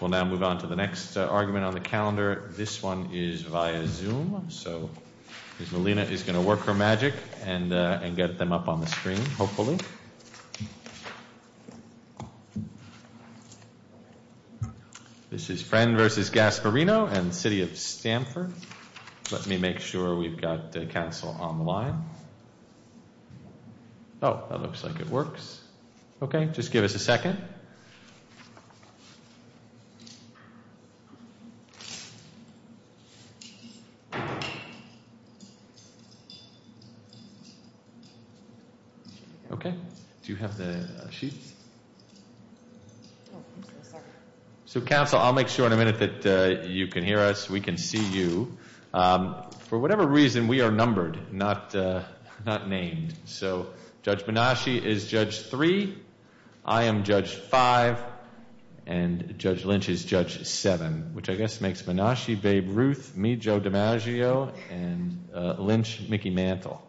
We'll now move on to the next argument on the calendar. This one is via Zoom, so Ms. Molina is going to work her magic and get them up on the screen, hopefully. This is Friend v. Gasparino and City of Stamford. Let me make sure we've got council on the line. Oh, that looks like it works. Okay, just give us a second. Okay, do you have the sheet? So, council, I'll make sure in a minute that you can hear us, we can see you. For whatever reason, we are numbered, not named. So, Judge Menasci is Judge 3, I am Judge 5, and Judge Lynch is Judge 7, which I guess makes Menasci, Babe Ruth, me, Joe DiMaggio, and Lynch, Mickey Mantle.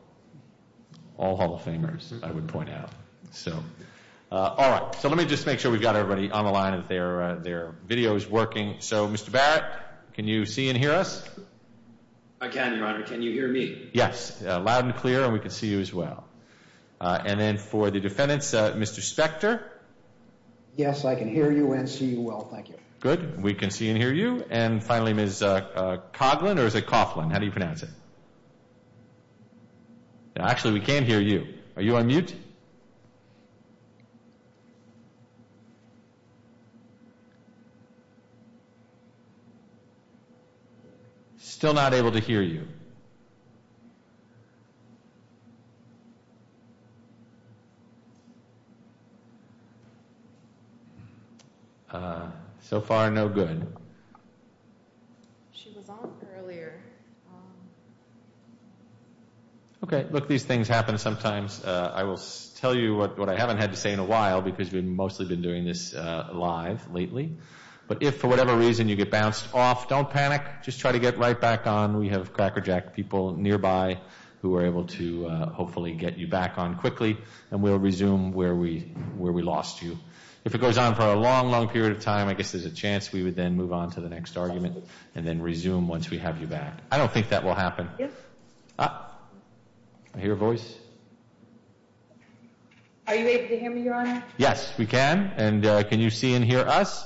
All Hall of Famers, I would point out. All right, so let me just make sure we've got everybody on the line and their video is working. So, Mr. Barrett, can you see and hear us? I can, Your Honor. Can you hear me? Yes, loud and clear, and we can see you as well. And then for the defendants, Mr. Spector? Yes, I can hear you and see you well, thank you. Good, we can see and hear you. And finally, Ms. Coughlin, or is it Coughlin, how do you pronounce it? Actually, we can hear you. Are you on mute? Still not able to hear you. So far, no good. She was on earlier. Okay, look, these things happen sometimes. I will tell you what I haven't had to say in a while because we've mostly been doing this live lately. But if for whatever reason you get bounced off, don't panic. Just try to get right back on. We have Cracker Jack people nearby who are able to hopefully get you back on quickly, and we'll resume where we lost you. If it goes on for a long, long period of time, I guess there's a chance we would then move on to the next argument and then resume once we have you back. I don't think that will happen. I hear a voice. Are you able to hear me, Your Honor? Yes, we can. And can you see and hear us?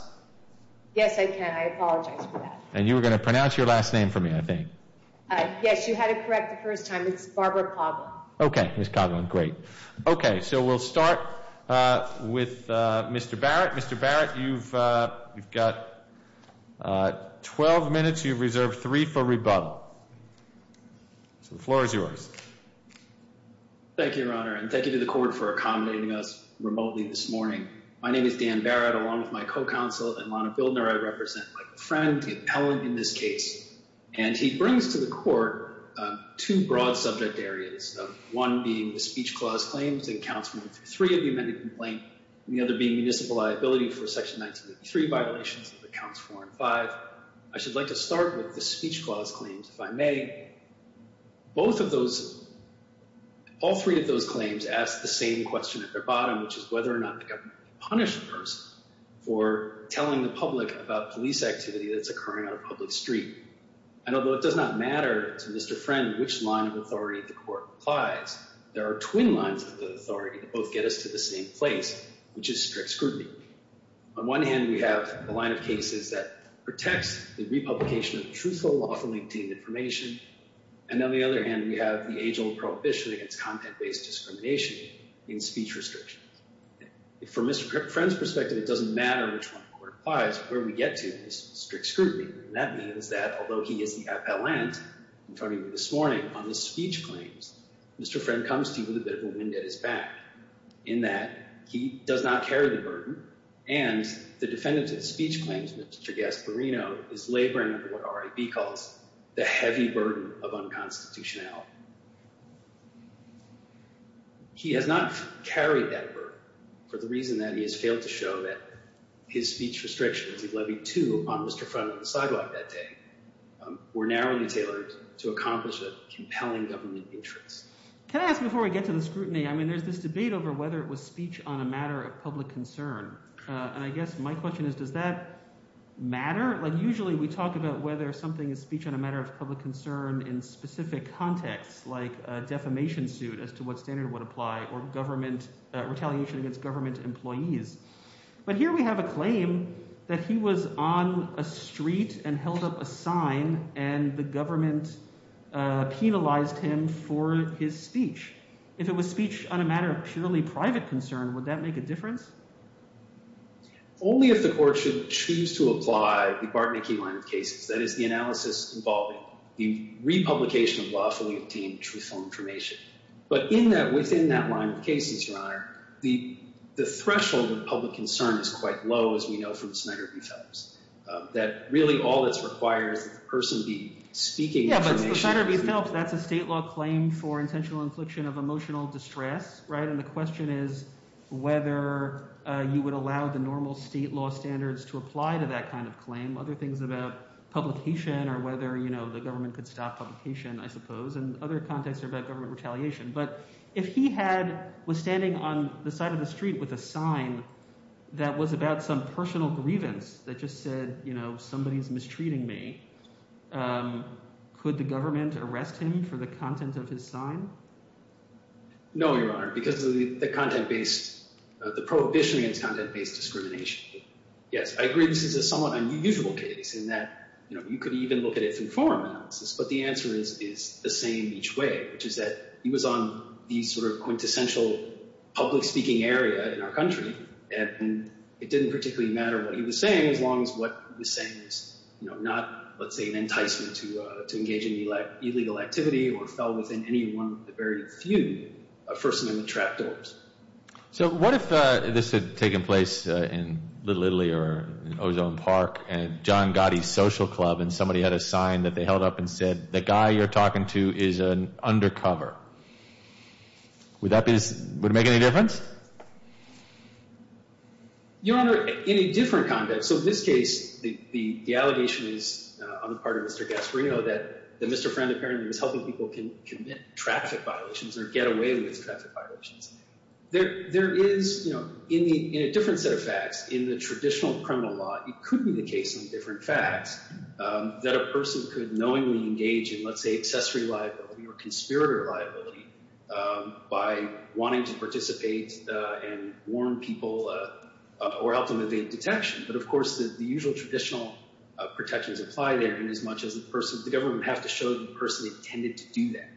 Yes, I can. I apologize for that. And you were going to pronounce your last name for me, I think. Yes, you had it correct the first time. It's Barbara Coughlin. Okay, Ms. Coughlin. Great. Okay, so we'll start with Mr. Barrett. Mr. Barrett, you've got 12 minutes. You've reserved three for rebuttal. So the floor is yours. Thank you, Your Honor, and thank you to the court for accommodating us remotely this morning. My name is Dan Barrett. Along with my co-counsel and Lana Bildner, I represent my friend, Allen, in this case. And he brings to the court two broad subject areas, one being the speech clause claims in Counts 1 through 3 of the amended complaint, and the other being municipal liability for Section 1983 violations of the Counts 4 and 5. I should like to start with the speech clause claims, if I may. Both of those, all three of those claims ask the same question at their bottom, which is whether or not the government can punish a person for telling the public about police activity that's occurring on a public street. And although it does not matter to Mr. Friend which line of authority the court applies, there are twin lines of authority that both get us to the same place, which is strict scrutiny. On one hand, we have the line of cases that protects the republication of truthful, lawfully obtained information. And on the other hand, we have the age-old prohibition against content-based discrimination in speech restrictions. From Mr. Friend's perspective, it doesn't matter which one the court applies. Where we get to is strict scrutiny. And that means that although he is the appellant, I'm talking this morning, on the speech claims, Mr. Friend comes to you with a bit of a wind at his back in that he does not carry the burden. And the defendant at speech claims, Mr. Gasparino, is laboring under what RIB calls the heavy burden of unconstitutionality. He has not carried that burden for the reason that he has failed to show that his speech restrictions, he's levied two on Mr. Friend on the sidewalk that day, were narrowly tailored to accomplish a compelling government interest. Can I ask before we get to the scrutiny, I mean there's this debate over whether it was speech on a matter of public concern. And I guess my question is does that matter? Like usually we talk about whether something is speech on a matter of public concern in specific contexts like a defamation suit as to what standard would apply or government – retaliation against government employees. But here we have a claim that he was on a street and held up a sign and the government penalized him for his speech. If it was speech on a matter of purely private concern, would that make a difference? Only if the court should choose to apply the Bartmacke line of cases, that is the analysis involving the republication of lawfully obtained truthful information. But in that – within that line of cases, Your Honor, the threshold of public concern is quite low as we know from Snyder v. Phelps. That really all that's required is that the person be speaking information. Yeah, but Snyder v. Phelps, that's a state law claim for intentional infliction of emotional distress, right? And the question is whether you would allow the normal state law standards to apply to that kind of claim. Other things about publication or whether the government could stop publication I suppose. And other contexts are about government retaliation. But if he had – was standing on the side of the street with a sign that was about some personal grievance that just said somebody is mistreating me, could the government arrest him for the content of his sign? No, Your Honor, because of the content-based – the prohibition against content-based discrimination. Yes, I agree this is a somewhat unusual case in that you could even look at it through foreign analysis. But the answer is the same each way, which is that he was on the sort of quintessential public speaking area in our country. And it didn't particularly matter what he was saying as long as what he was saying was not, let's say, an enticement to engage in illegal activity or fell within any one of the very few First Amendment trap doors. So what if this had taken place in Little Italy or Ozone Park and John Gotti's Social Club and somebody had a sign that they held up and said the guy you're talking to is an undercover? Would that be – would it make any difference? Your Honor, in a different context. So in this case, the allegation is on the part of Mr. Gasparino that Mr. Friend apparently was helping people commit traffic violations or get away with traffic violations. There is – in a different set of facts, in the traditional criminal law, it could be the case in different facts that a person could knowingly engage in, let's say, accessory liability or conspirator liability by wanting to participate and warn people or help them evade detection. But, of course, the usual traditional protections apply there inasmuch as the person – the government would have to show the person intended to do that.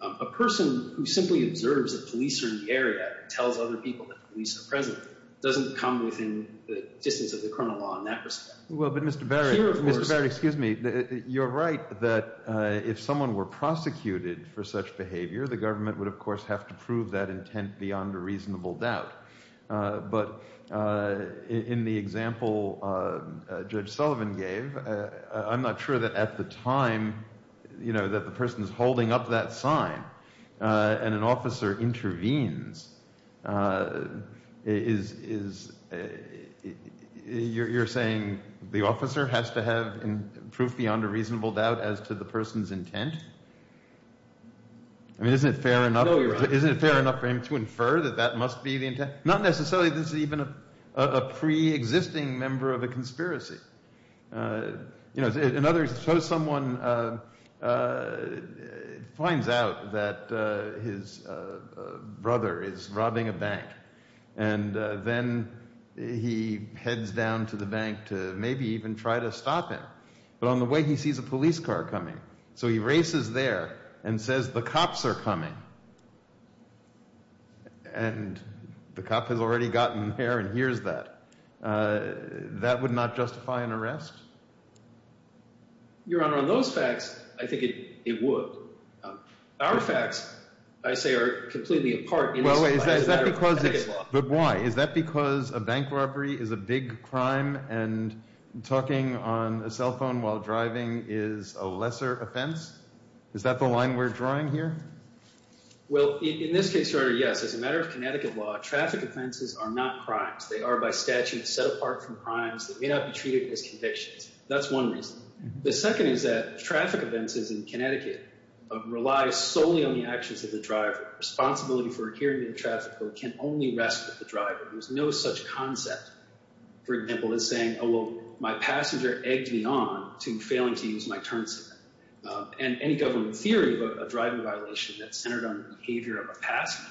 And a person who simply observes a policer in the area and tells other people that the police are present doesn't come within the distance of the criminal law in that respect. Well, but Mr. Barry – Here, of course – Mr. Barry, excuse me. You're right that if someone were prosecuted for such behavior, the government would, of course, have to prove that intent beyond a reasonable doubt. But in the example Judge Sullivan gave, I'm not sure that at the time that the person is holding up that sign and an officer intervenes, is – you're saying the officer has to have proof beyond a reasonable doubt as to the person's intent? I mean, isn't it fair enough – No, you're right. Not necessarily that this is even a pre-existing member of a conspiracy. In other words, suppose someone finds out that his brother is robbing a bank and then he heads down to the bank to maybe even try to stop him. But on the way he sees a police car coming. So he races there and says, the cops are coming. And the cop has already gotten there and hears that. That would not justify an arrest? Your Honor, on those facts, I think it would. Our facts, I say, are completely apart in this matter. But why? Is that because a bank robbery is a big crime and talking on a cell phone while driving is a lesser offense? Is that the line we're drawing here? Well, in this case, Your Honor, yes. As a matter of Connecticut law, traffic offenses are not crimes. They are by statute set apart from crimes that may not be treated as convictions. That's one reason. The second is that traffic offenses in Connecticut rely solely on the actions of the driver. Responsibility for adhering to the traffic code can only rest with the driver. There's no such concept, for example, as saying, oh, well, my passenger egged me on to failing to use my turn signal. And any government theory of a driving violation that's centered on the behavior of a passenger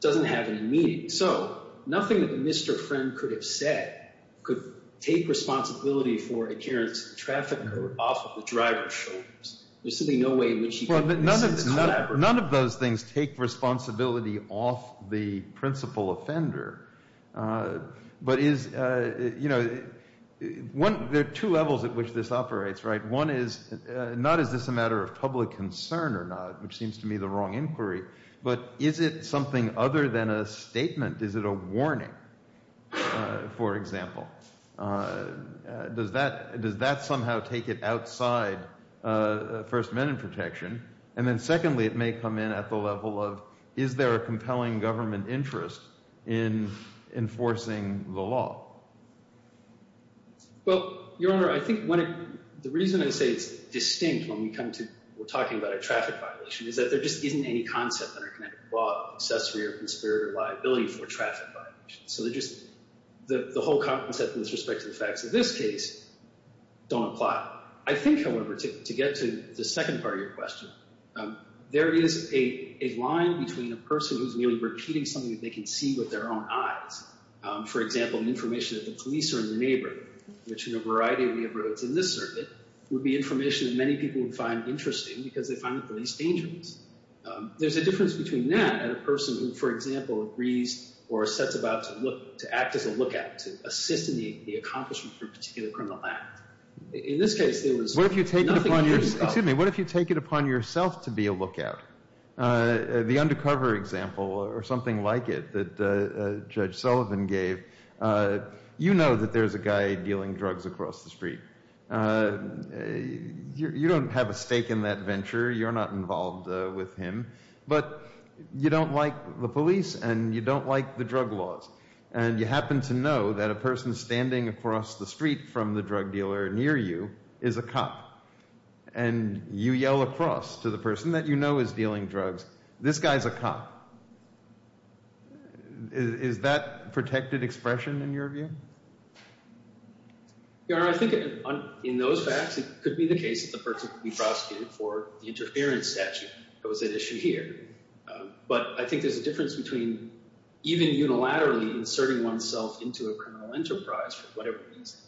doesn't have any meaning. So nothing that Mr. Friend could have said could take responsibility for adherence to the traffic code off of the driver's shoulders. There's simply no way in which he could make sense of that. None of those things take responsibility off the principal offender. But is, you know, there are two levels at which this operates, right? One is, not is this a matter of public concern or not, which seems to me the wrong inquiry, but is it something other than a statement? Is it a warning, for example? Does that somehow take it outside First Amendment protection? And then secondly, it may come in at the level of is there a compelling government interest in enforcing the law? Well, Your Honor, I think when the reason I say it's distinct when we come to we're talking about a traffic violation is that there just isn't any concept that are connected to law, accessory or conspirator liability for traffic violations. So they're just the whole concept with respect to the facts of this case don't apply. I think, however, to get to the second part of your question, there is a line between a person who's merely repeating something that they can see with their own eyes. For example, information that the police are in the neighborhood, which in a variety of neighborhoods in this circuit would be information that many people would find interesting because they find it the least dangerous. There's a difference between that and a person who, for example, agrees or sets about to look to act as a lookout to assist in the accomplishment for a particular criminal act. In this case, there was nothing. What if you take it upon yourself to be a lookout? The undercover example or something like it that Judge Sullivan gave, you know that there's a guy dealing drugs across the street. You don't have a stake in that venture. You're not involved with him. But you don't like the police and you don't like the drug laws. And you happen to know that a person standing across the street from the drug dealer near you is a cop. And you yell across to the person that you know is dealing drugs, this guy's a cop. Is that protected expression in your view? Your Honor, I think in those facts it could be the case that the person could be prosecuted for the interference statute that was at issue here. But I think there's a difference between even unilaterally inserting oneself into a criminal enterprise for whatever reason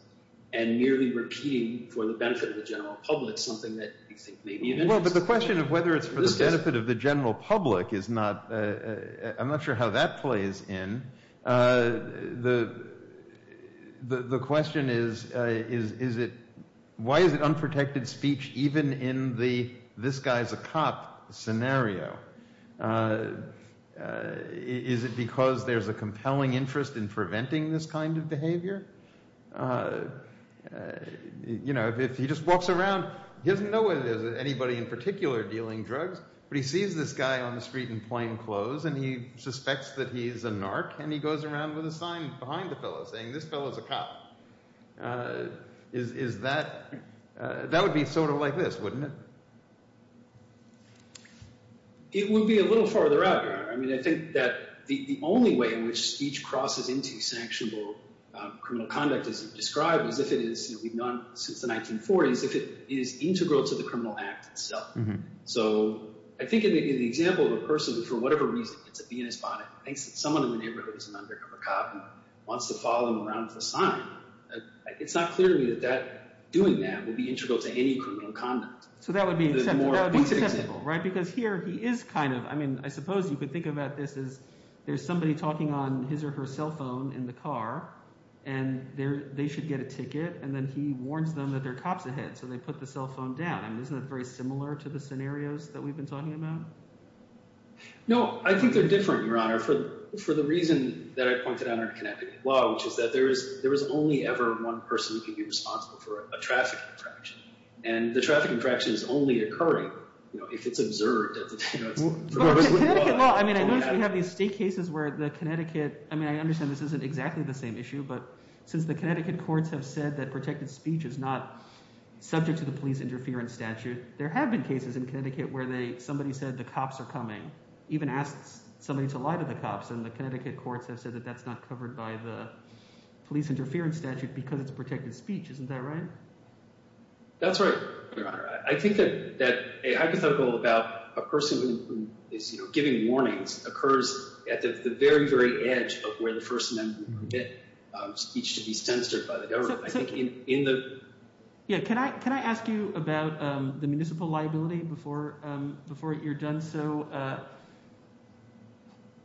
and merely repeating for the benefit of the general public something that you think may be of interest. Well, but the question of whether it's for the benefit of the general public is not – I'm not sure how that plays in. The question is, is it – why is it unprotected speech even in the this guy's a cop scenario? Is it because there's a compelling interest in preventing this kind of behavior? If he just walks around, he doesn't know whether there's anybody in particular dealing drugs, but he sees this guy on the street in plain clothes and he suspects that he's a narc and he goes around with a sign behind the fellow saying this fellow is a cop. Is that – that would be sort of like this, wouldn't it? It would be a little farther out, Your Honor. I mean I think that the only way in which speech crosses into sanctionable criminal conduct as you've described is if it is – we've known since the 1940s if it is integral to the criminal act itself. So I think the example of a person who for whatever reason gets a B in his bonnet thinks that someone in the neighborhood is an undercover cop and wants to follow him around with a sign, it's not clear to me that doing that would be integral to any criminal conduct. So that would be acceptable, right? Because here he is kind of – I mean I suppose you could think about this as there's somebody talking on his or her cell phone in the car, and they should get a ticket, and then he warns them that there are cops ahead, so they put the cell phone down. I mean isn't that very similar to the scenarios that we've been talking about? No, I think they're different, Your Honor, for the reason that I pointed out in Connecticut law, which is that there is only ever one person who can be responsible for a traffic infraction, and the traffic infraction is only occurring if it's observed. Well, Connecticut law – I mean I noticed we have these state cases where the Connecticut – I mean I understand this isn't exactly the same issue, but since the Connecticut courts have said that protected speech is not subject to the police interference statute, there have been cases in Connecticut where somebody said the cops are coming, even asked somebody to lie to the cops, and the Connecticut courts have said that that's not covered by the police interference statute because it's protected speech. Isn't that right? That's right, Your Honor. I think that a hypothetical about a person who is giving warnings occurs at the very, very edge of where the First Amendment would permit speech to be censored by the government. Yeah, can I ask you about the municipal liability before you're done? So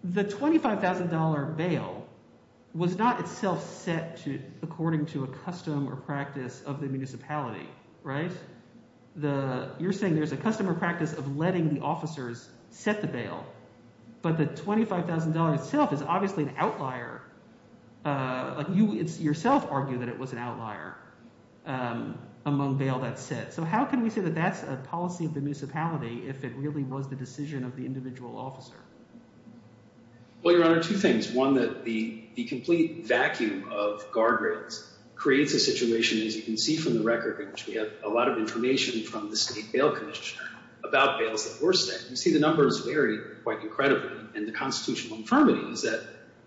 the $25,000 bail was not itself set according to a custom or practice of the municipality. You're saying there's a custom or practice of letting the officers set the bail, but the $25,000 itself is obviously an outlier. You yourself argue that it was an outlier among bail that's set. So how can we say that that's a policy of the municipality if it really was the decision of the individual officer? Well, Your Honor, two things. One, that the complete vacuum of guardrails creates a situation, as you can see from the record, which we have a lot of information from the state bail commissioner about bails that were set. You see the numbers vary quite incredibly. And the constitutional infirmity is that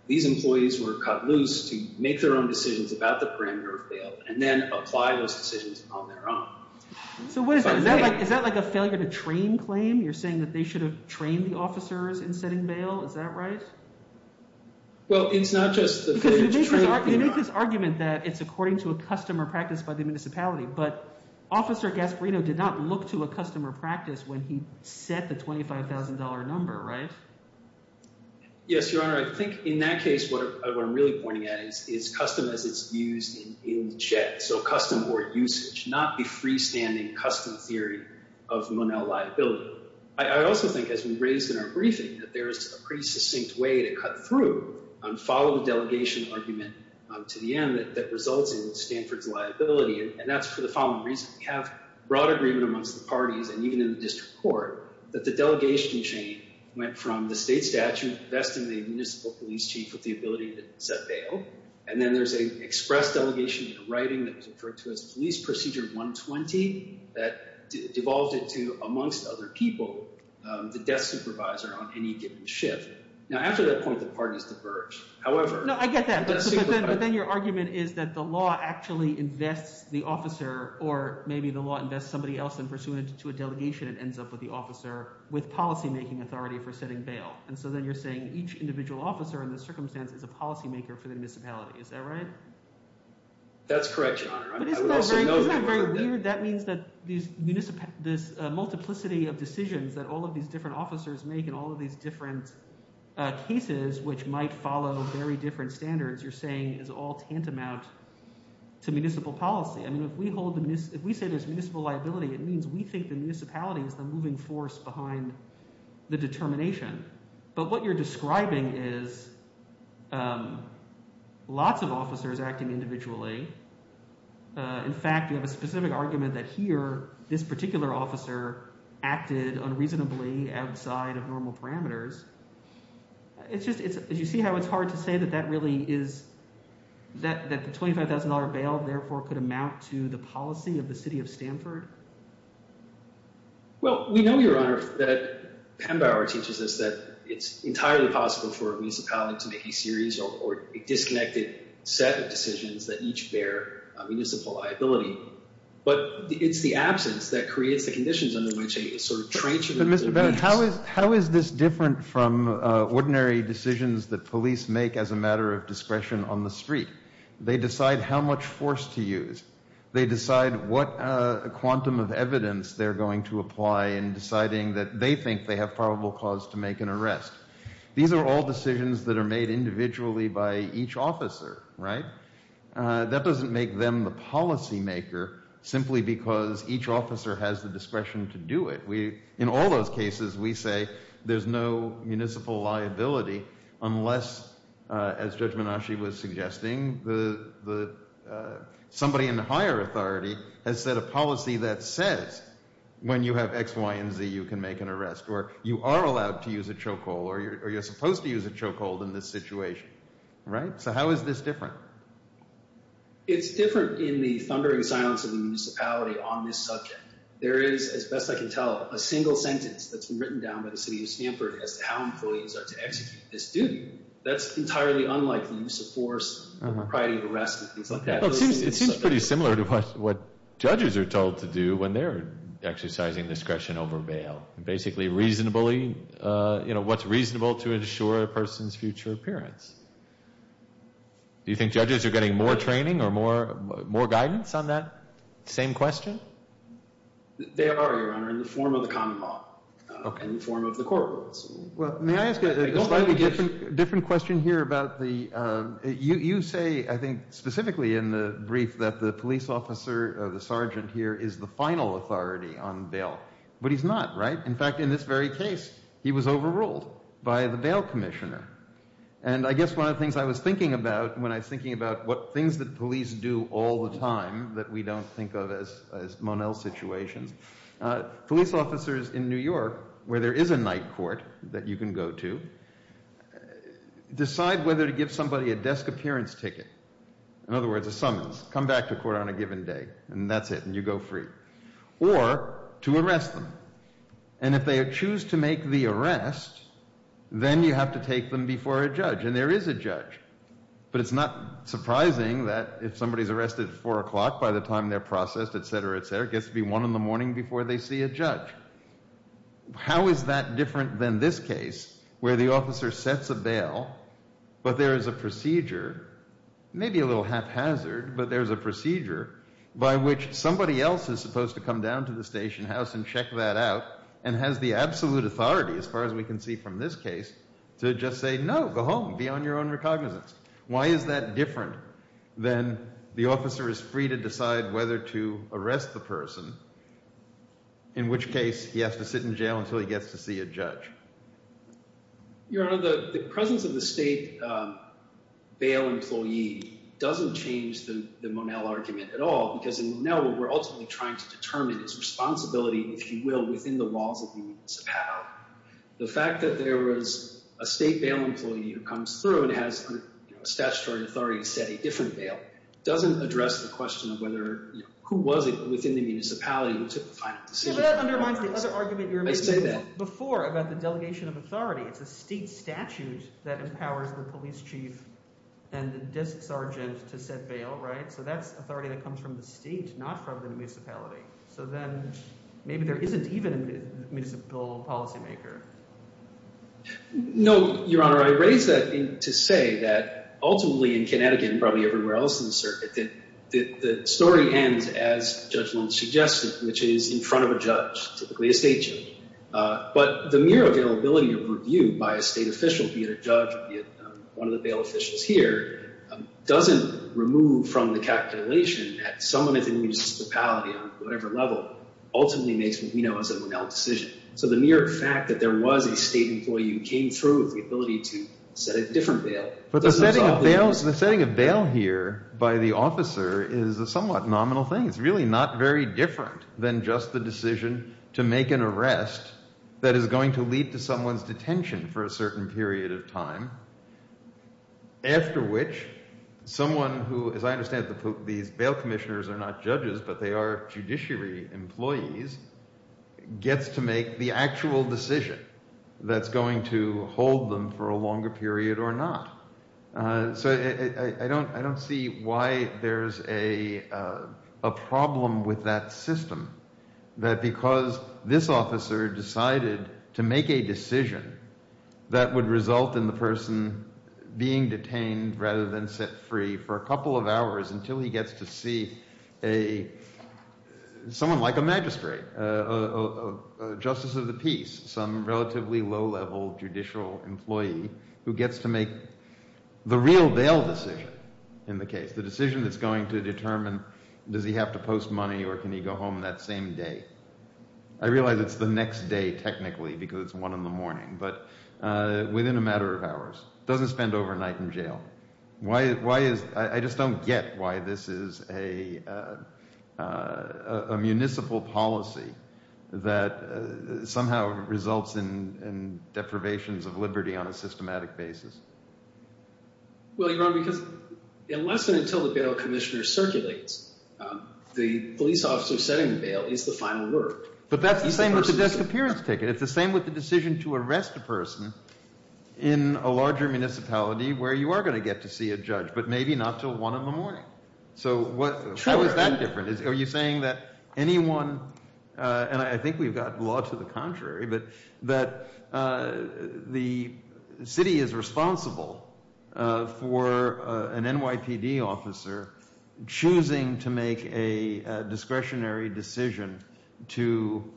these employees were cut loose to make their own decisions about the parameter of bail and then apply those decisions on their own. So what is that? Is that like a failure to train claim? You're saying that they should have trained the officers in setting bail? Is that right? Well, it's not just the failure to train. You make this argument that it's according to a custom or practice by the municipality, but Officer Gasparino did not look to a custom or practice when he set the $25,000 number, right? Yes, Your Honor. I think in that case, what I'm really pointing at is custom as it's used in check. So custom or usage, not the freestanding custom theory of Monell liability. I also think, as we raised in our briefing, that there is a pretty succinct way to cut through and follow the delegation argument to the end that results in Stanford's liability. And that's for the following reason. We have broad agreement amongst the parties and even in the district court that the delegation chain went from the state statute investing the municipal police chief with the ability to set bail. And then there's an express delegation in writing that was referred to as Police Procedure 120 that devolved it to, amongst other people, the desk supervisor on any given shift. Now, after that point, the parties diverge. However— No, I get that. But then your argument is that the law actually invests the officer or maybe the law invests somebody else in pursuing it to a delegation and ends up with the officer with policymaking authority for setting bail. And so then you're saying each individual officer in this circumstance is a policymaker for the municipality. Is that right? That's correct, Your Honor. I would also note— —that cases which might follow very different standards, you're saying, is all tantamount to municipal policy. I mean if we hold the—if we say there's municipal liability, it means we think the municipality is the moving force behind the determination. But what you're describing is lots of officers acting individually. In fact, you have a specific argument that here this particular officer acted unreasonably outside of normal parameters. It's just—do you see how it's hard to say that that really is—that the $25,000 bail therefore could amount to the policy of the city of Stanford? Well, we know, Your Honor, that Penn Bauer teaches us that it's entirely possible for a municipality to make a serious or disconnected set of decisions that each bear municipal liability. But it's the absence that creates the conditions under which a sort of trench— But Mr. Bennett, how is this different from ordinary decisions that police make as a matter of discretion on the street? They decide how much force to use. They decide what quantum of evidence they're going to apply in deciding that they think they have probable cause to make an arrest. These are all decisions that are made individually by each officer, right? That doesn't make them the policymaker simply because each officer has the discretion to do it. In all those cases, we say there's no municipal liability unless, as Judge Menasche was suggesting, somebody in higher authority has set a policy that says when you have X, Y, and Z, you can make an arrest. Or you are allowed to use a chokehold or you're supposed to use a chokehold in this situation, right? So how is this different? It's different in the thundering silence of the municipality on this subject. There is, as best I can tell, a single sentence that's been written down by the city of Stanford as to how employees are to execute this duty. That's entirely unlike the use of force prior to your arrest and things like that. It seems pretty similar to what judges are told to do when they're exercising discretion over bail. Basically reasonably—what's reasonable to ensure a person's future appearance. Do you think judges are getting more training or more guidance on that same question? They are, Your Honor, in the form of the common law, in the form of the court rules. Well, may I ask a slightly different question here about the—you say, I think specifically in the brief, that the police officer, the sergeant here, is the final authority on bail. But he's not, right? In fact, in this very case, he was overruled by the bail commissioner. And I guess one of the things I was thinking about when I was thinking about what things that police do all the time that we don't think of as Monell situations, police officers in New York, where there is a night court that you can go to, decide whether to give somebody a desk appearance ticket, in other words, a summons, come back to court on a given day, and that's it, and you go free, or to arrest them. And if they choose to make the arrest, then you have to take them before a judge. And there is a judge. But it's not surprising that if somebody's arrested at 4 o'clock by the time they're processed, et cetera, et cetera, it gets to be 1 in the morning before they see a judge. How is that different than this case, where the officer sets a bail, but there is a procedure, maybe a little haphazard, but there is a procedure by which somebody else is supposed to come down to the station house and check that out and has the absolute authority, as far as we can see from this case, to just say, no, go home, be on your own recognizance. Why is that different than the officer is free to decide whether to arrest the person, in which case he has to sit in jail until he gets to see a judge? Your Honor, the presence of the state bail employee doesn't change the Monell argument at all, because in Monell, what we're ultimately trying to determine is responsibility, if you will, within the walls of the municipality. The fact that there was a state bail employee who comes through and has statutory authority to set a different bail doesn't address the question of whether – who was it within the municipality who took the final decision. But that undermines the other argument you were making before about the delegation of authority. It's a state statute that empowers the police chief and the desk sergeant to set bail, right? So that's authority that comes from the state, not from the municipality. So then maybe there isn't even a municipal policymaker. No, Your Honor. I raise that to say that ultimately in Connecticut and probably everywhere else in the circuit, the story ends as Judge Lund suggested, which is in front of a judge, typically a state judge. But the mere availability of review by a state official, be it a judge, be it one of the bail officials here, doesn't remove from the calculation that someone within the municipality on whatever level ultimately makes what we know as a Monell decision. So the mere fact that there was a state employee who came through with the ability to set a different bail doesn't solve the question. So the setting of bail here by the officer is a somewhat nominal thing. It's really not very different than just the decision to make an arrest that is going to lead to someone's detention for a certain period of time, after which someone who – as I understand it, these bail commissioners are not judges but they are judiciary employees – so I don't see why there's a problem with that system, that because this officer decided to make a decision that would result in the person being detained rather than set free for a couple of hours until he gets to see someone like a magistrate, a justice of the peace, some relatively low-level judicial employee who gets to make the real bail decision in the case, the decision that's going to determine does he have to post money or can he go home that same day. I realize it's the next day technically because it's one in the morning, but within a matter of hours. Why is – I just don't get why this is a municipal policy that somehow results in deprivations of liberty on a systematic basis. Well, you're wrong because unless and until the bail commissioner circulates, the police officer setting the bail is the final word. But that's the same with the disappearance ticket. It's the same with the decision to arrest a person in a larger municipality where you are going to get to see a judge, but maybe not until one in the morning. So how is that different? Are you saying that anyone – and I think we've got law to the contrary, but that the city is responsible for an NYPD officer choosing to make a discretionary decision to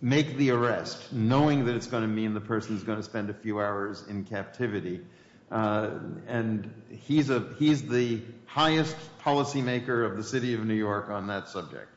make the arrest, knowing that it's going to mean the person is going to spend a few hours in captivity, and he's the highest policymaker of the city of New York on that subject?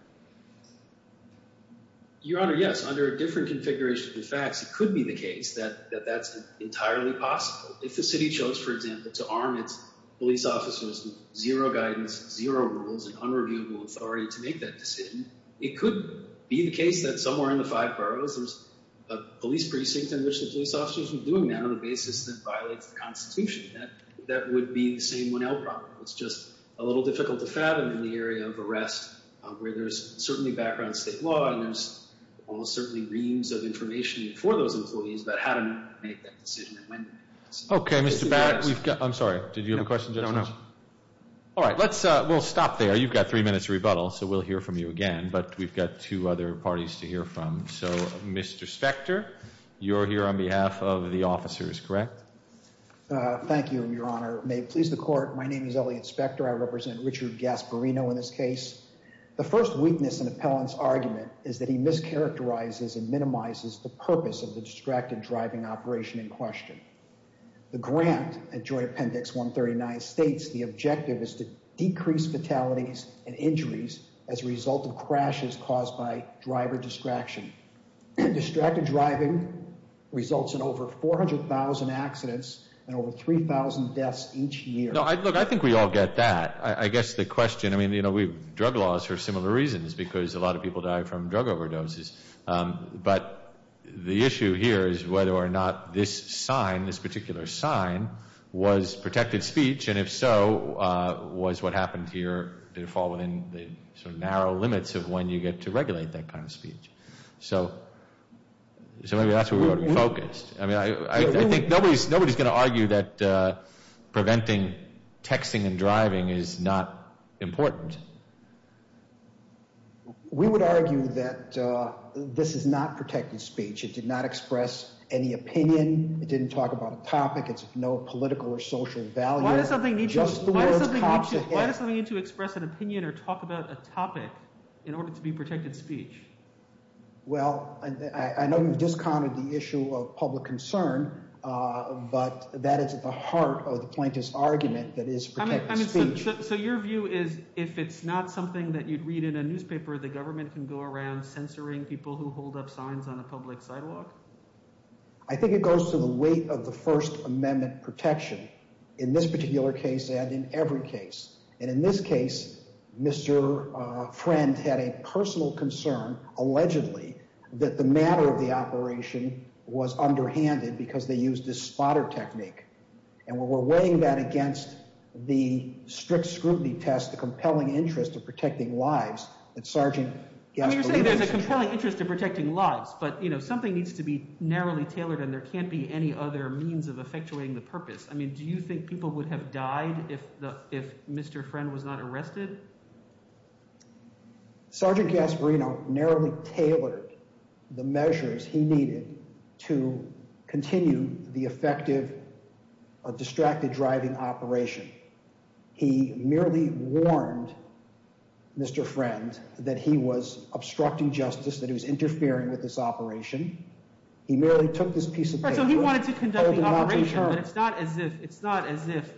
Your Honor, yes. Under a different configuration of the facts, it could be the case that that's entirely possible. If the city chose, for example, to arm its police officers with zero guidance, zero rules, and unreviewable authority to make that decision, it could be the case that somewhere in the five boroughs there's a police precinct in which the police officers are doing that on the basis that violates the Constitution. That would be the same 1L problem. It's just a little difficult to fathom in the area of arrest where there's certainly background state law and there's almost certainly reams of information for those employees about how to make that decision and when to make that decision. Okay, Mr. Barrett. I'm sorry, did you have a question, Justice? I don't know. All right, we'll stop there. You've got three minutes to rebuttal, so we'll hear from you again, but we've got two other parties to hear from. So, Mr. Spector, you're here on behalf of the officers, correct? Thank you, Your Honor. May it please the Court, my name is Elliot Spector. I represent Richard Gasparino in this case. The first weakness in Appellant's argument is that he mischaracterizes and minimizes the purpose of the distracted driving operation in question. The grant at Joint Appendix 139 states the objective is to decrease fatalities and injuries as a result of crashes caused by driver distraction. Distracted driving results in over 400,000 accidents and over 3,000 deaths each year. No, look, I think we all get that. I guess the question, I mean, you know, we have drug laws for similar reasons because a lot of people die from drug overdoses. But the issue here is whether or not this sign, this particular sign, was protected speech, and if so, was what happened here, did it fall within the sort of narrow limits of when you get to regulate that kind of speech? So maybe that's where we ought to be focused. I mean, I think nobody's going to argue that preventing texting and driving is not important. We would argue that this is not protected speech. It did not express any opinion. It didn't talk about a topic. It's of no political or social value. Why does something need to express an opinion or talk about a topic in order to be protected speech? Well, I know you've discounted the issue of public concern, but that is at the heart of the plaintiff's argument that it is protected speech. So your view is if it's not something that you'd read in a newspaper, the government can go around censoring people who hold up signs on a public sidewalk? I think it goes to the weight of the First Amendment protection in this particular case and in every case. And in this case, Mr. Friend had a personal concern, allegedly, that the matter of the operation was underhanded because they used this spotter technique. And when we're weighing that against the strict scrutiny test, the compelling interest of protecting lives, that Sergeant Gaffney… You're saying there's a compelling interest in protecting lives, but something needs to be narrowly tailored, and there can't be any other means of effectuating the purpose. I mean do you think people would have died if Mr. Friend was not arrested? Sergeant Gasparino narrowly tailored the measures he needed to continue the effective distracted driving operation. He merely warned Mr. Friend that he was obstructing justice, that he was interfering with this operation. He merely took this piece of paper and told him not to turn. So he wanted to conduct the operation, but it's not as if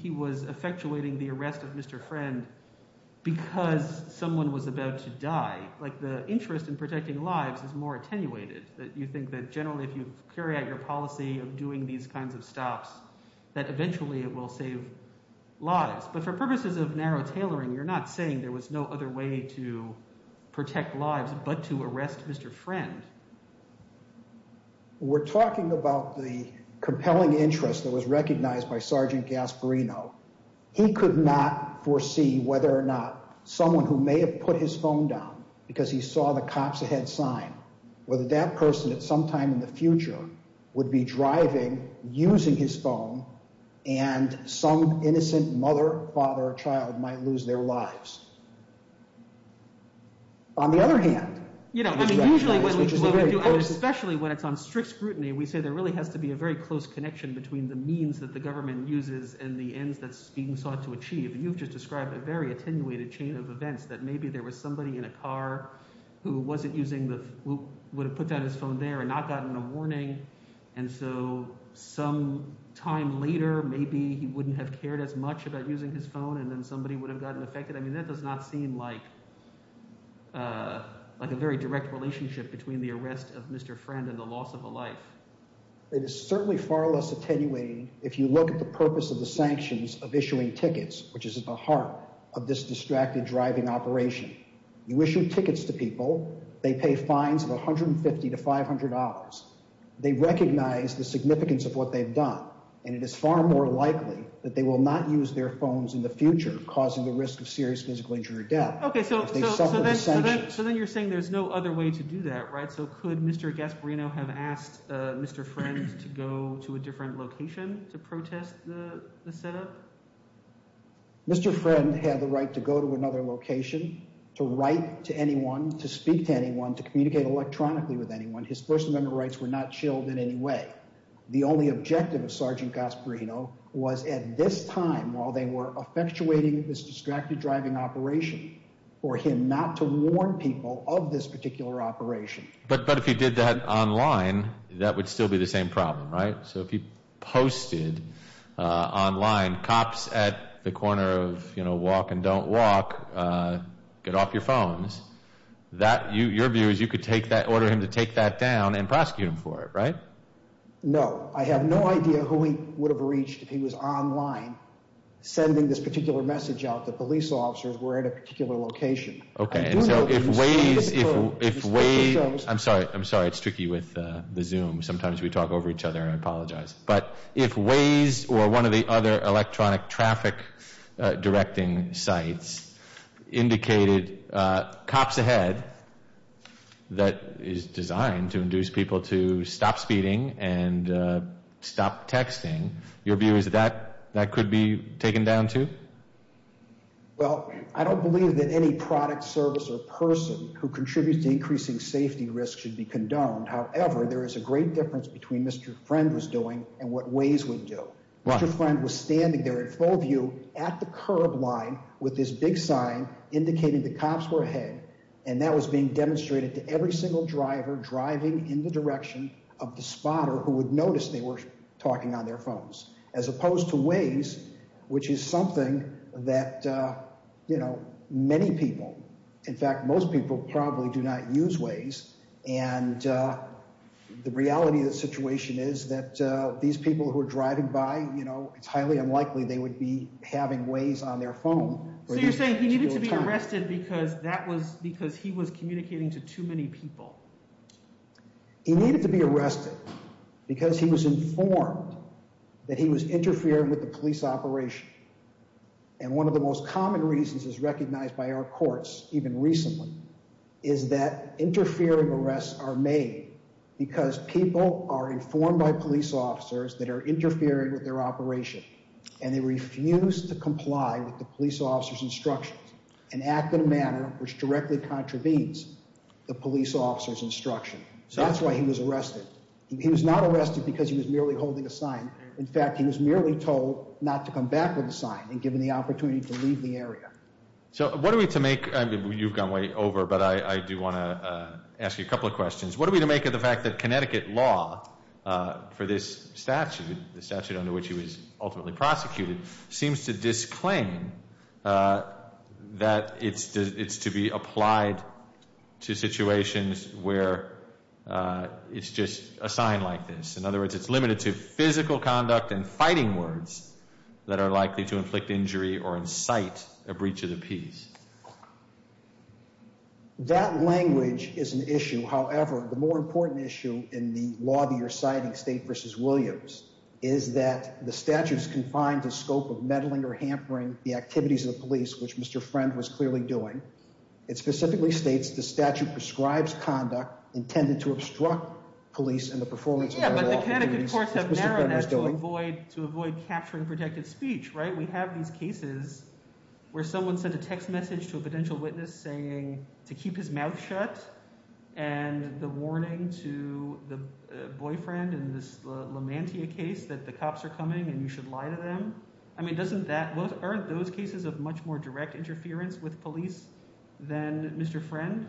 he was effectuating the arrest of Mr. Friend because someone was about to die. The interest in protecting lives is more attenuated. You think that generally if you carry out your policy of doing these kinds of stops that eventually it will save lives. But for purposes of narrow tailoring, you're not saying there was no other way to protect lives but to arrest Mr. Friend. We're talking about the compelling interest that was recognized by Sergeant Gasparino. He could not foresee whether or not someone who may have put his phone down because he saw the cops ahead sign, whether that person at some time in the future would be driving, using his phone, and some innocent mother, father, or child might lose their lives. On the other hand, especially when it's on strict scrutiny, we say there really has to be a very close connection between the means that the government uses and the ends that's being sought to achieve. You've just described a very attenuated chain of events that maybe there was somebody in a car who wasn't using the – would have put down his phone there and not gotten a warning. And so some time later, maybe he wouldn't have cared as much about using his phone, and then somebody would have gotten affected. I mean that does not seem like a very direct relationship between the arrest of Mr. Friend and the loss of a life. It is certainly far less attenuating if you look at the purpose of the sanctions of issuing tickets, which is at the heart of this distracted driving operation. You issue tickets to people. They pay fines of $150 to $500. They recognize the significance of what they've done, and it is far more likely that they will not use their phones in the future, causing the risk of serious physical injury or death if they suffer the sanctions. So then you're saying there's no other way to do that, right? So could Mr. Gasparino have asked Mr. Friend to go to a different location to protest the setup? Mr. Friend had the right to go to another location, to write to anyone, to speak to anyone, to communicate electronically with anyone. His First Amendment rights were not chilled in any way. The only objective of Sergeant Gasparino was at this time, while they were effectuating this distracted driving operation, for him not to warn people of this particular operation. But if he did that online, that would still be the same problem, right? So if he posted online, cops at the corner of walk and don't walk, get off your phones, your view is you could order him to take that down and prosecute him for it, right? No. I have no idea who he would have reached if he was online sending this particular message out that police officers were at a particular location. Okay, and so if Waze, if Waze, I'm sorry, I'm sorry, it's tricky with the Zoom. Sometimes we talk over each other and I apologize. But if Waze or one of the other electronic traffic directing sites indicated cops ahead that is designed to induce people to stop speeding and stop texting, your view is that that could be taken down too? Well, I don't believe that any product service or person who contributes to increasing safety risk should be condoned. However, there is a great difference between Mr. Friend was doing and what Waze would do. Mr. Friend was standing there in full view at the curb line with this big sign indicating the cops were ahead. And that was being demonstrated to every single driver driving in the direction of the spotter who would notice they were talking on their phones. As opposed to Waze, which is something that, you know, many people, in fact, most people probably do not use Waze. And the reality of the situation is that these people who are driving by, you know, it's highly unlikely they would be having Waze on their phone. So you're saying he needed to be arrested because that was because he was communicating to too many people. He needed to be arrested because he was informed that he was interfering with the police operation. And one of the most common reasons is recognized by our courts, even recently, is that interfering arrests are made because people are informed by police officers that are interfering with their operation. And they refuse to comply with the police officer's instructions and act in a manner which directly contravenes the police officer's instruction. So that's why he was arrested. He was not arrested because he was merely holding a sign. In fact, he was merely told not to come back with a sign and given the opportunity to leave the area. So what are we to make? I mean, you've gone way over, but I do want to ask you a couple of questions. What are we to make of the fact that Connecticut law for this statute, the statute under which he was ultimately prosecuted, seems to disclaim that it's to be applied to situations where it's just a sign like this. In other words, it's limited to physical conduct and fighting words that are likely to inflict injury or incite a breach of the peace. That language is an issue. However, the more important issue in the law that you're citing, State v. Williams, is that the statute is confined to the scope of meddling or hampering the activities of the police, which Mr. Friend was clearly doing. It specifically states the statute prescribes conduct intended to obstruct police in the performance of their law. The Connecticut courts have narrowed that to avoid capturing protected speech, right? We have these cases where someone sent a text message to a potential witness saying to keep his mouth shut and the warning to the boyfriend in this Lamantia case that the cops are coming and you should lie to them. I mean, doesn't that, aren't those cases of much more direct interference with police than Mr. Friend?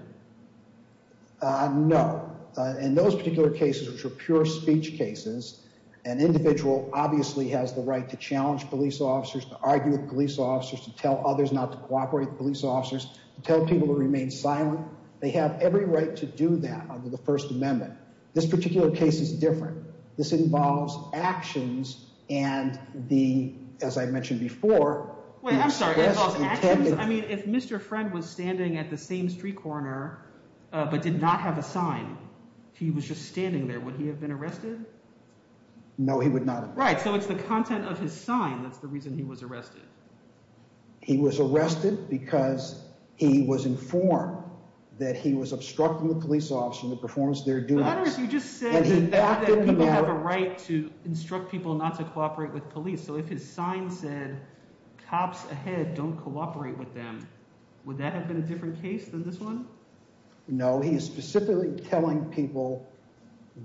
No. In those particular cases, which are pure speech cases, an individual obviously has the right to challenge police officers, to argue with police officers, to tell others not to cooperate with police officers, to tell people to remain silent. They have every right to do that under the First Amendment. This particular case is different. This involves actions and the, as I mentioned before… I'm sorry, it involves actions? I mean, if Mr. Friend was standing at the same street corner but did not have a sign, he was just standing there, would he have been arrested? No, he would not have been. Right, so it's the content of his sign that's the reason he was arrested. He was arrested because he was informed that he was obstructing the police officer in the performance of their duties. You just said that people have a right to instruct people not to cooperate with police, so if his sign said, cops ahead, don't cooperate with them, would that have been a different case than this one? No, he is specifically telling people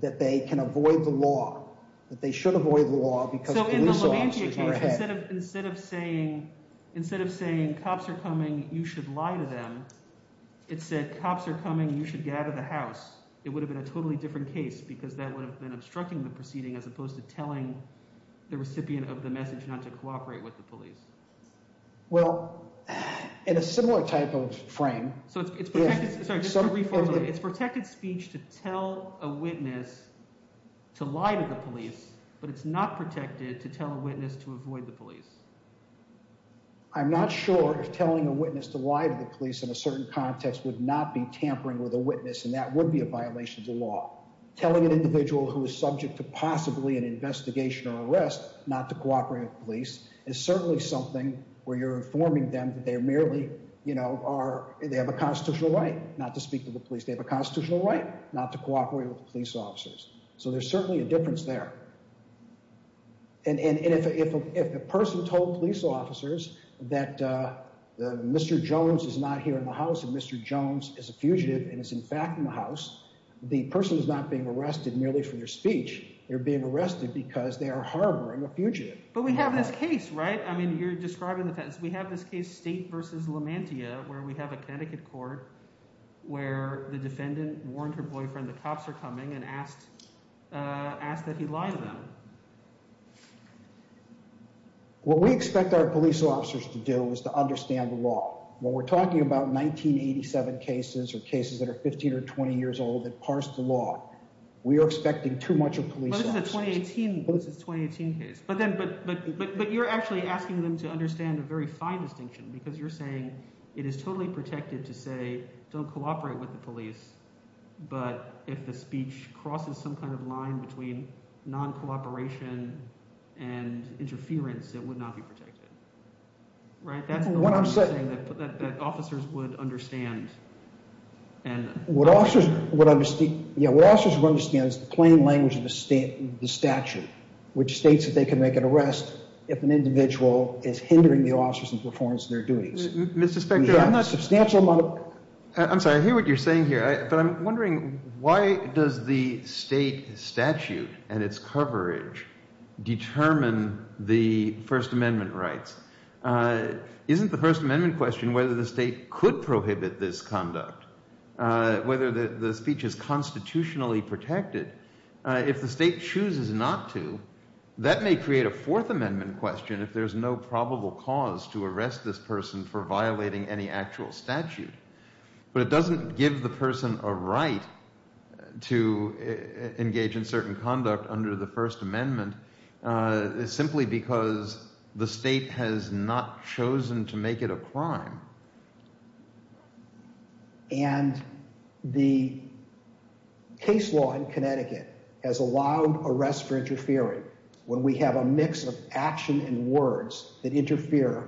that they can avoid the law, that they should avoid the law because police officers are ahead. Instead of saying cops are coming, you should lie to them, it said cops are coming, you should get out of the house. It would have been a totally different case because that would have been obstructing the proceeding as opposed to telling the recipient of the message not to cooperate with the police. Well, in a similar type of frame, it's protected speech to tell a witness to lie to the police, but it's not protected to tell a witness to avoid the police. I'm not sure if telling a witness to lie to the police in a certain context would not be tampering with a witness and that would be a violation of the law. Telling an individual who is subject to possibly an investigation or arrest not to cooperate with police is certainly something where you're informing them that they merely, you know, they have a constitutional right not to speak to the police. They have a constitutional right not to cooperate with police officers, so there's certainly a difference there. And if a person told police officers that Mr. Jones is not here in the house and Mr. Jones is a fugitive and is in fact in the house, the person is not being arrested merely for their speech. They're being arrested because they are harboring a fugitive. But we have this case, right? I mean you're describing the – we have this case, State v. Lamantia, where we have a Connecticut court where the defendant warned her boyfriend the cops are coming and asked that he lie to them. What we expect our police officers to do is to understand the law. When we're talking about 1987 cases or cases that are 15 or 20 years old that parse the law, we are expecting too much of police officers. That was a 2018 case. But then – but you're actually asking them to understand a very fine distinction because you're saying it is totally protected to say don't cooperate with the police. But if the speech crosses some kind of line between non-cooperation and interference, it would not be protected, right? That's what I'm saying that officers would understand. What officers would understand is the plain language of the statute which states that they can make an arrest if an individual is hindering the officers in performance of their duties. Mr. Spector, I'm not – We have a substantial amount of – whether the speech is constitutionally protected. If the state chooses not to, that may create a Fourth Amendment question if there's no probable cause to arrest this person for violating any actual statute. But it doesn't give the person a right to engage in certain conduct under the First Amendment simply because the state has not chosen to make it a crime. And the case law in Connecticut has allowed arrests for interfering when we have a mix of action and words that interfere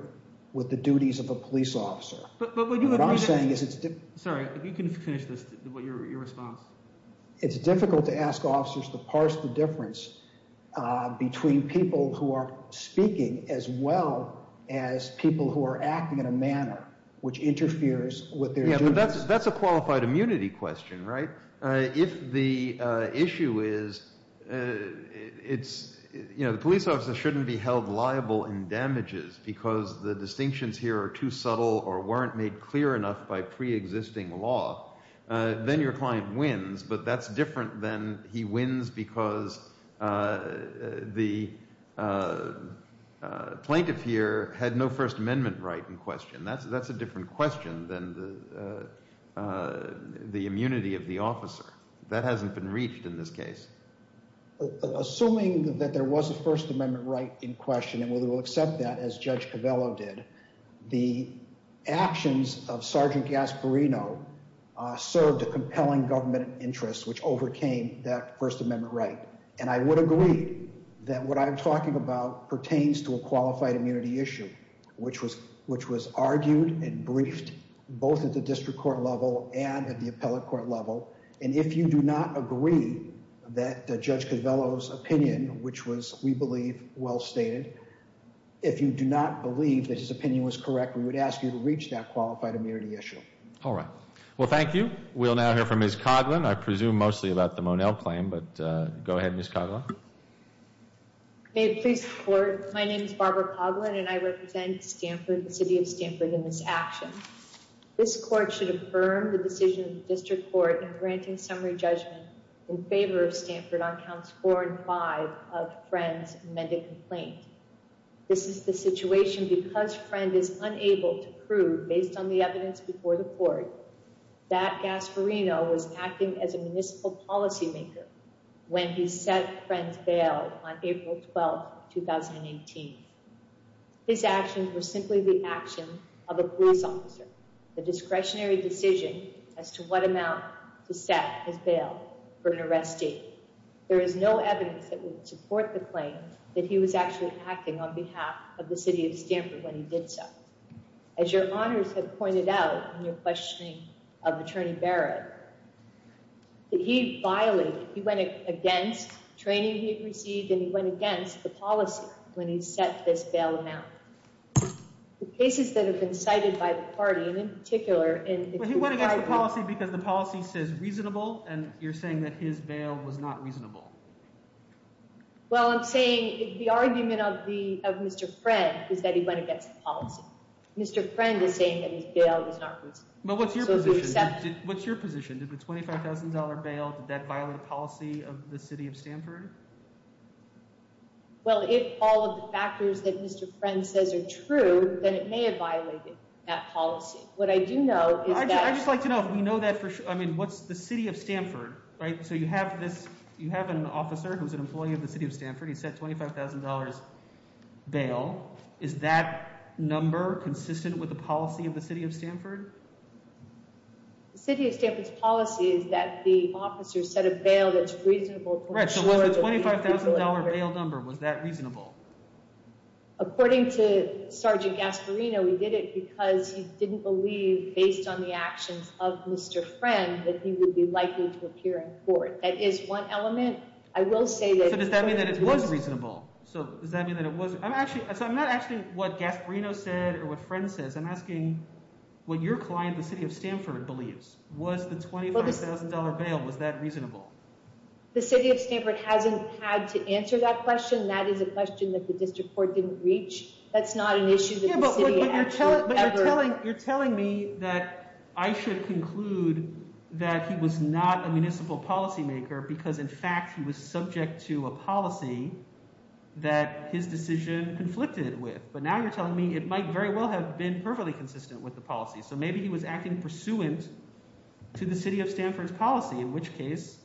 with the duties of a police officer. What I'm saying is it's – Sorry, you can finish your response. It's difficult to ask officers to parse the difference between people who are speaking as well as people who are acting in a manner which interferes with their duties. That's a qualified immunity question, right? If the issue is it's – the police officer shouldn't be held liable in damages because the distinctions here are too subtle or weren't made clear enough by preexisting law, then your client wins. But that's different than he wins because the plaintiff here had no First Amendment right in question. That's a different question than the immunity of the officer. That hasn't been reached in this case. Assuming that there was a First Amendment right in question, and we will accept that as Judge Covello did, the actions of Sergeant Gasparino served a compelling government interest which overcame that First Amendment right. And I would agree that what I'm talking about pertains to a qualified immunity issue which was argued and briefed both at the district court level and at the appellate court level. And if you do not agree that Judge Covello's opinion, which was, we believe, well stated, if you do not believe that his opinion was correct, we would ask you to reach that qualified immunity issue. All right. Well, thank you. We'll now hear from Ms. Coghlan. I presume mostly about the Monell claim, but go ahead, Ms. Coghlan. May it please the Court, my name is Barbara Coghlan and I represent Stanford, the city of Stanford, in this action. This court should affirm the decision of the district court in granting summary judgment in favor of Stanford on counts four and five of Friend's amended complaint. This is the situation because Friend is unable to prove, based on the evidence before the court, that Gasparino was acting as a municipal policymaker when he said Friend's bailed on April 12, 2018. His actions were simply the action of a police officer, the discretionary decision as to what amount to set his bail for an arrest date. There is no evidence that would support the claim that he was actually acting on behalf of the city of Stanford when he did so. As your honors have pointed out in your questioning of Attorney Barrett, he violated, he went against training he received and he went against the policy when he set this bail amount. The cases that have been cited by the party, and in particular... Well, he went against the policy because the policy says reasonable and you're saying that his bail was not reasonable. Well, I'm saying the argument of Mr. Friend is that he went against the policy. Mr. Friend is saying that his bail was not reasonable. But what's your position? What's your position? Did the $25,000 bail, did that violate the policy of the city of Stanford? Well, if all of the factors that Mr. Friend says are true, then it may have violated that policy. What I do know is that... I'd just like to know if we know that for sure. I mean, what's the city of Stanford, right? So you have this, you have an officer who's an employee of the city of Stanford. He set $25,000 bail. Is that number consistent with the policy of the city of Stanford? The city of Stanford's policy is that the officer set a bail that's reasonable... Correct. So was the $25,000 bail number, was that reasonable? According to Sergeant Gasparino, he did it because he didn't believe, based on the actions of Mr. Friend, that he would be likely to appear in court. That is one element. I will say that... So does that mean that it was reasonable? So does that mean that it was... I'm not asking what Gasparino said or what Friend says. I'm asking what your client, the city of Stanford, believes. Was the $25,000 bail, was that reasonable? The city of Stanford hasn't had to answer that question. That is a question that the district court didn't reach. That's not an issue that the city actually ever... Yeah, but you're telling me that I should conclude that he was not a municipal policymaker because, in fact, he was subject to a policy that his decision conflicted with. But now you're telling me it might very well have been perfectly consistent with the policy. So maybe he was acting pursuant to the city of Stanford's policy, in which case,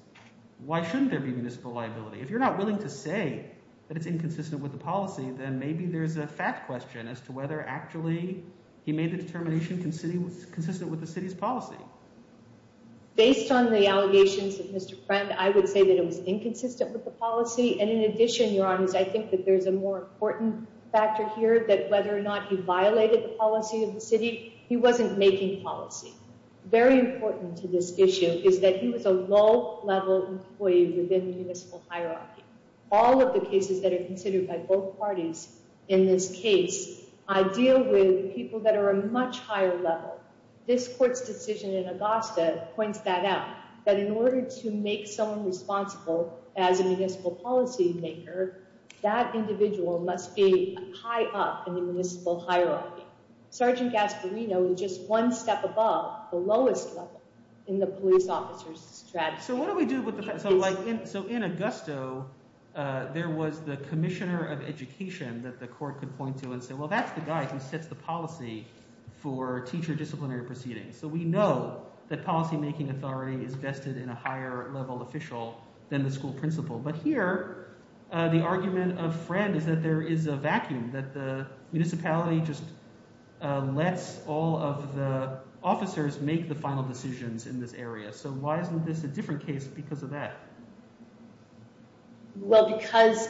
why shouldn't there be municipal liability? If you're not willing to say that it's inconsistent with the policy, then maybe there's a fact question as to whether actually he made the determination consistent with the city's policy. Based on the allegations of Mr. Friend, I would say that it was inconsistent with the policy. And in addition, Your Honors, I think that there's a more important factor here that whether or not he violated the policy of the city, he wasn't making policy. Very important to this issue is that he was a low-level employee within the municipal hierarchy. All of the cases that are considered by both parties in this case deal with people that are a much higher level. This court's decision in Augusta points that out, that in order to make someone responsible as a municipal policymaker, that individual must be high up in the municipal hierarchy. Sergeant Gasparino is just one step above the lowest level in the police officer's strategy. So in Augusta, there was the commissioner of education that the court could point to and say, well, that's the guy who sets the policy for teacher disciplinary proceedings. So we know that policymaking authority is vested in a higher-level official than the school principal. But here the argument of Friend is that there is a vacuum, that the municipality just lets all of the officers make the final decisions in this area. So why isn't this a different case because of that? Well, because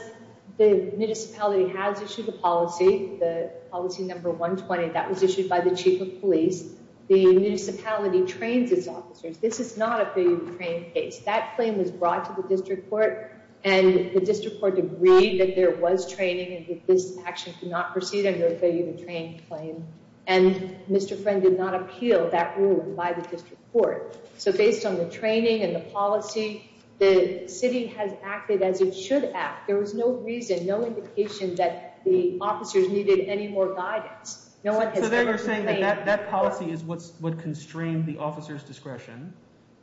the municipality has issued a policy, the policy number 120, that was issued by the chief of police. The municipality trains its officers. This is not a failure to train case. That claim was brought to the district court, and the district court agreed that there was training and that this action could not proceed under a failure to train claim. And Mr. Friend did not appeal that ruling by the district court. So based on the training and the policy, the city has acted as it should act. There was no reason, no indication that the officers needed any more guidance. No one has ever complained. So then you're saying that that policy is what constrained the officer's discretion.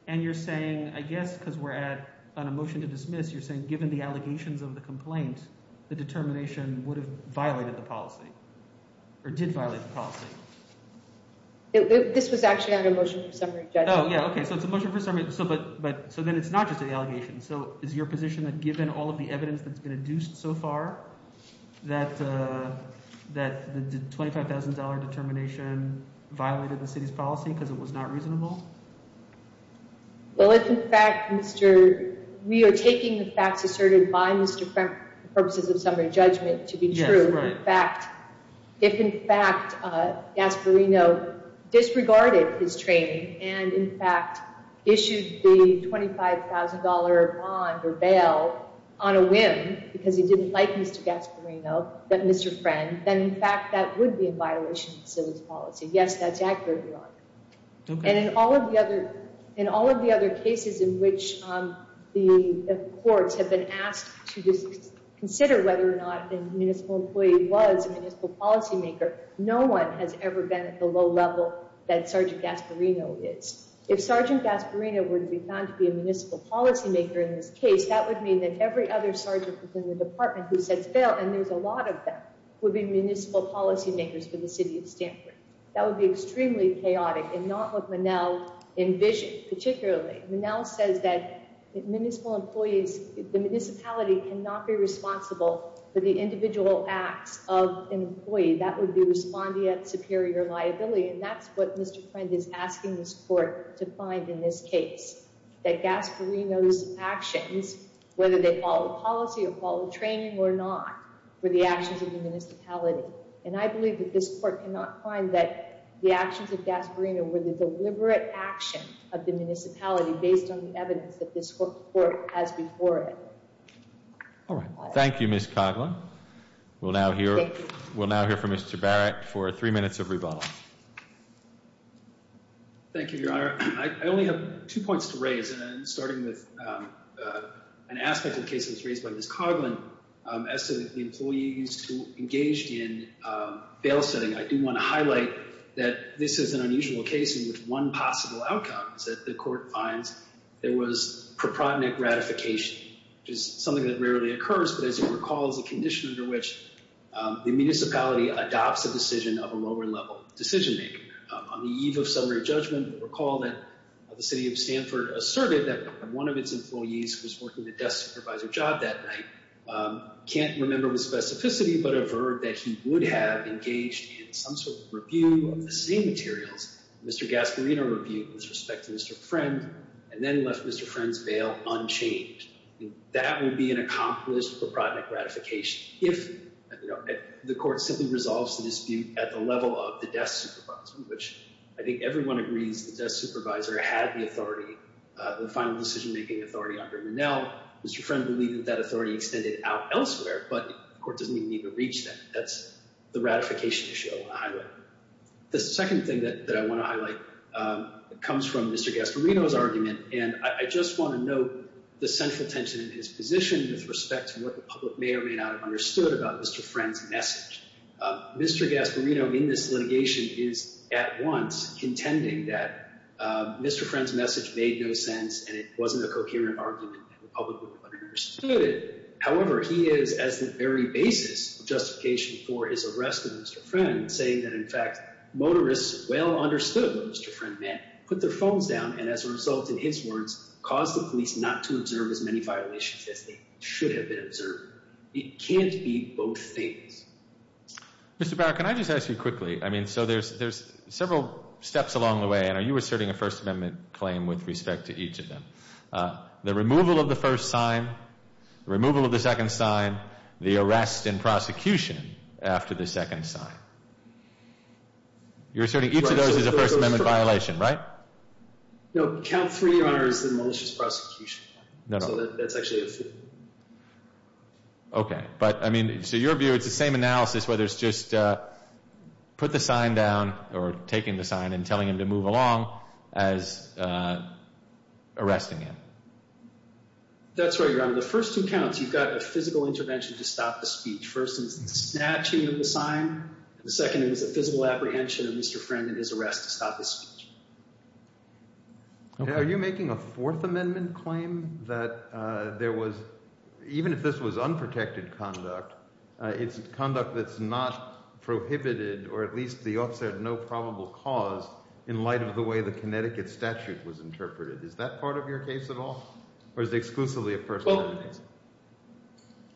And you're saying, I guess because we're at a motion to dismiss, you're saying given the allegations of the complaint, the determination would have violated the policy or did violate the policy. This was actually under a motion for summary judgment. Oh, yeah. Okay. So it's a motion for summary. So then it's not just an allegation. So is your position that given all of the evidence that's been adduced so far, that the $25,000 determination violated the city's policy because it was not reasonable? Well, if in fact, we are taking the facts asserted by Mr. Friend for purposes of summary judgment to be true. If in fact, Gasparino disregarded his training and in fact, issued the $25,000 bond or bail on a whim, because he didn't like Mr. Gasparino, but Mr. Friend, then in fact, that would be a violation of the city's policy. Yes, that's accurate, Your Honor. And in all of the other cases in which the courts have been asked to consider whether or not a municipal employee was a municipal policymaker, no one has ever been at the low level that Sergeant Gasparino is. If Sergeant Gasparino were to be found to be a municipal policymaker in this case, that would mean that every other sergeant in the department who says bail, and there's a lot of them, would be municipal policymakers for the city of Stanford. That would be extremely chaotic and not what Monell envisioned, particularly. Monell says that the municipality cannot be responsible for the individual acts of an employee. That would be responding at superior liability, and that's what Mr. Friend is asking this court to find in this case. That Gasparino's actions, whether they follow policy or follow training or not, were the actions of the municipality. And I believe that this court cannot find that the actions of Gasparino were the deliberate action of the municipality based on the evidence that this court has before it. All right. Thank you, Ms. Coughlin. We'll now hear from Mr. Barrett for three minutes of rebuttal. Thank you, Your Honor. Your Honor, I only have two points to raise, and starting with an aspect of the case that was raised by Ms. Coughlin, as to the employees who engaged in bail setting, I do want to highlight that this is an unusual case in which one possible outcome is that the court finds there was proprionic ratification, which is something that rarely occurs, but as you recall, is a condition under which the municipality adopts a decision of a lower level decision-maker. On the eve of summary judgment, recall that the city of Stanford asserted that one of its employees who was working the death supervisor job that night can't remember with specificity, but averred that he would have engaged in some sort of review of the same materials, Mr. Gasparino reviewed with respect to Mr. Friend, and then left Mr. Friend's bail unchanged. That would be an accomplished proprionic ratification if the court simply resolves the dispute at the level of the death supervisor, which I think everyone agrees the death supervisor had the authority, the final decision-making authority under Monell. Mr. Friend believed that that authority extended out elsewhere, but the court doesn't even need to reach that. That's the ratification issue I want to highlight. The second thing that I want to highlight comes from Mr. Gasparino's argument, and I just want to note the central tension in his position with respect to what the public may or may not have understood about Mr. Friend's message. Mr. Gasparino in this litigation is at once contending that Mr. Friend's message made no sense, and it wasn't a coherent argument that the public would have understood it. However, he is, as the very basis of justification for his arrest of Mr. Friend, saying that, in fact, motorists well understood what Mr. Friend meant, put their phones down, and as a result, in his words, caused the police not to observe as many violations as they should have been observed. It can't be both things. Mr. Barr, can I just ask you quickly? I mean, so there's several steps along the way, and are you asserting a First Amendment claim with respect to each of them? The removal of the first sign, the removal of the second sign, the arrest and prosecution after the second sign. You're asserting each of those is a First Amendment violation, right? No, count three, Your Honor, is the malicious prosecution. No, no. So that's actually the fifth. Okay. But, I mean, so your view, it's the same analysis, whether it's just put the sign down, or taking the sign and telling him to move along as arresting him. That's right, Your Honor. The first two counts, you've got a physical intervention to stop the speech. First is the snatching of the sign. The second is a physical apprehension of Mr. Friend and his arrest to stop his speech. Are you making a Fourth Amendment claim that there was, even if this was unprotected conduct, it's conduct that's not prohibited, or at least the officer had no probable cause, in light of the way the Connecticut statute was interpreted? Is that part of your case at all? Or is it exclusively a First Amendment case?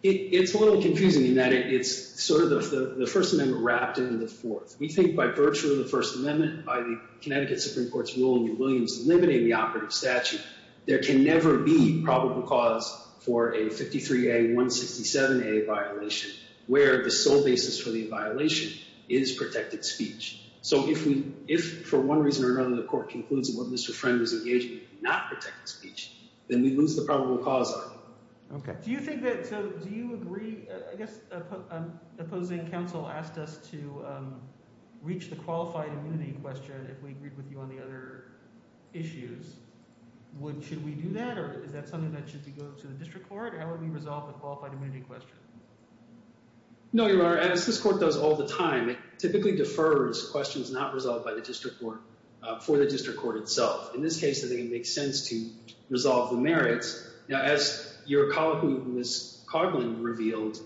It's a little confusing in that it's sort of the First Amendment wrapped into the Fourth. We think by virtue of the First Amendment, by the Connecticut Supreme Court's rule in New Williams, there can never be probable cause for a 53A, 167A violation where the sole basis for the violation is protected speech. So if, for one reason or another, the court concludes that Mr. Friend was engaged in not protected speech, then we lose the probable cause argument. Okay. Do you think that—so do you agree—I guess an opposing counsel asked us to reach the qualified immunity question if we agreed with you on the other issues. Should we do that, or is that something that should go to the district court? How would we resolve a qualified immunity question? No, Your Honor, as this court does all the time, it typically defers questions not resolved by the district court for the district court itself. Now, as your colleague, Ms. Coughlin, revealed,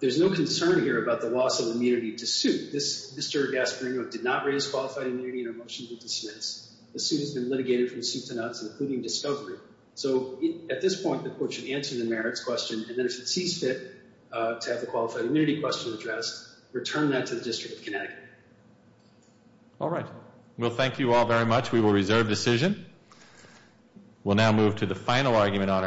there's no concern here about the loss of immunity to suit. Mr. Gasparino did not raise qualified immunity in a motion to dismiss. The suit has been litigated from suit to nuts, including discovery. So at this point, the court should answer the merits question, and then if it sees fit to have the qualified immunity question addressed, return that to the District of Connecticut. All right. Well, thank you all very much. We will reserve decision. We'll now move to the final argument, Your Honor.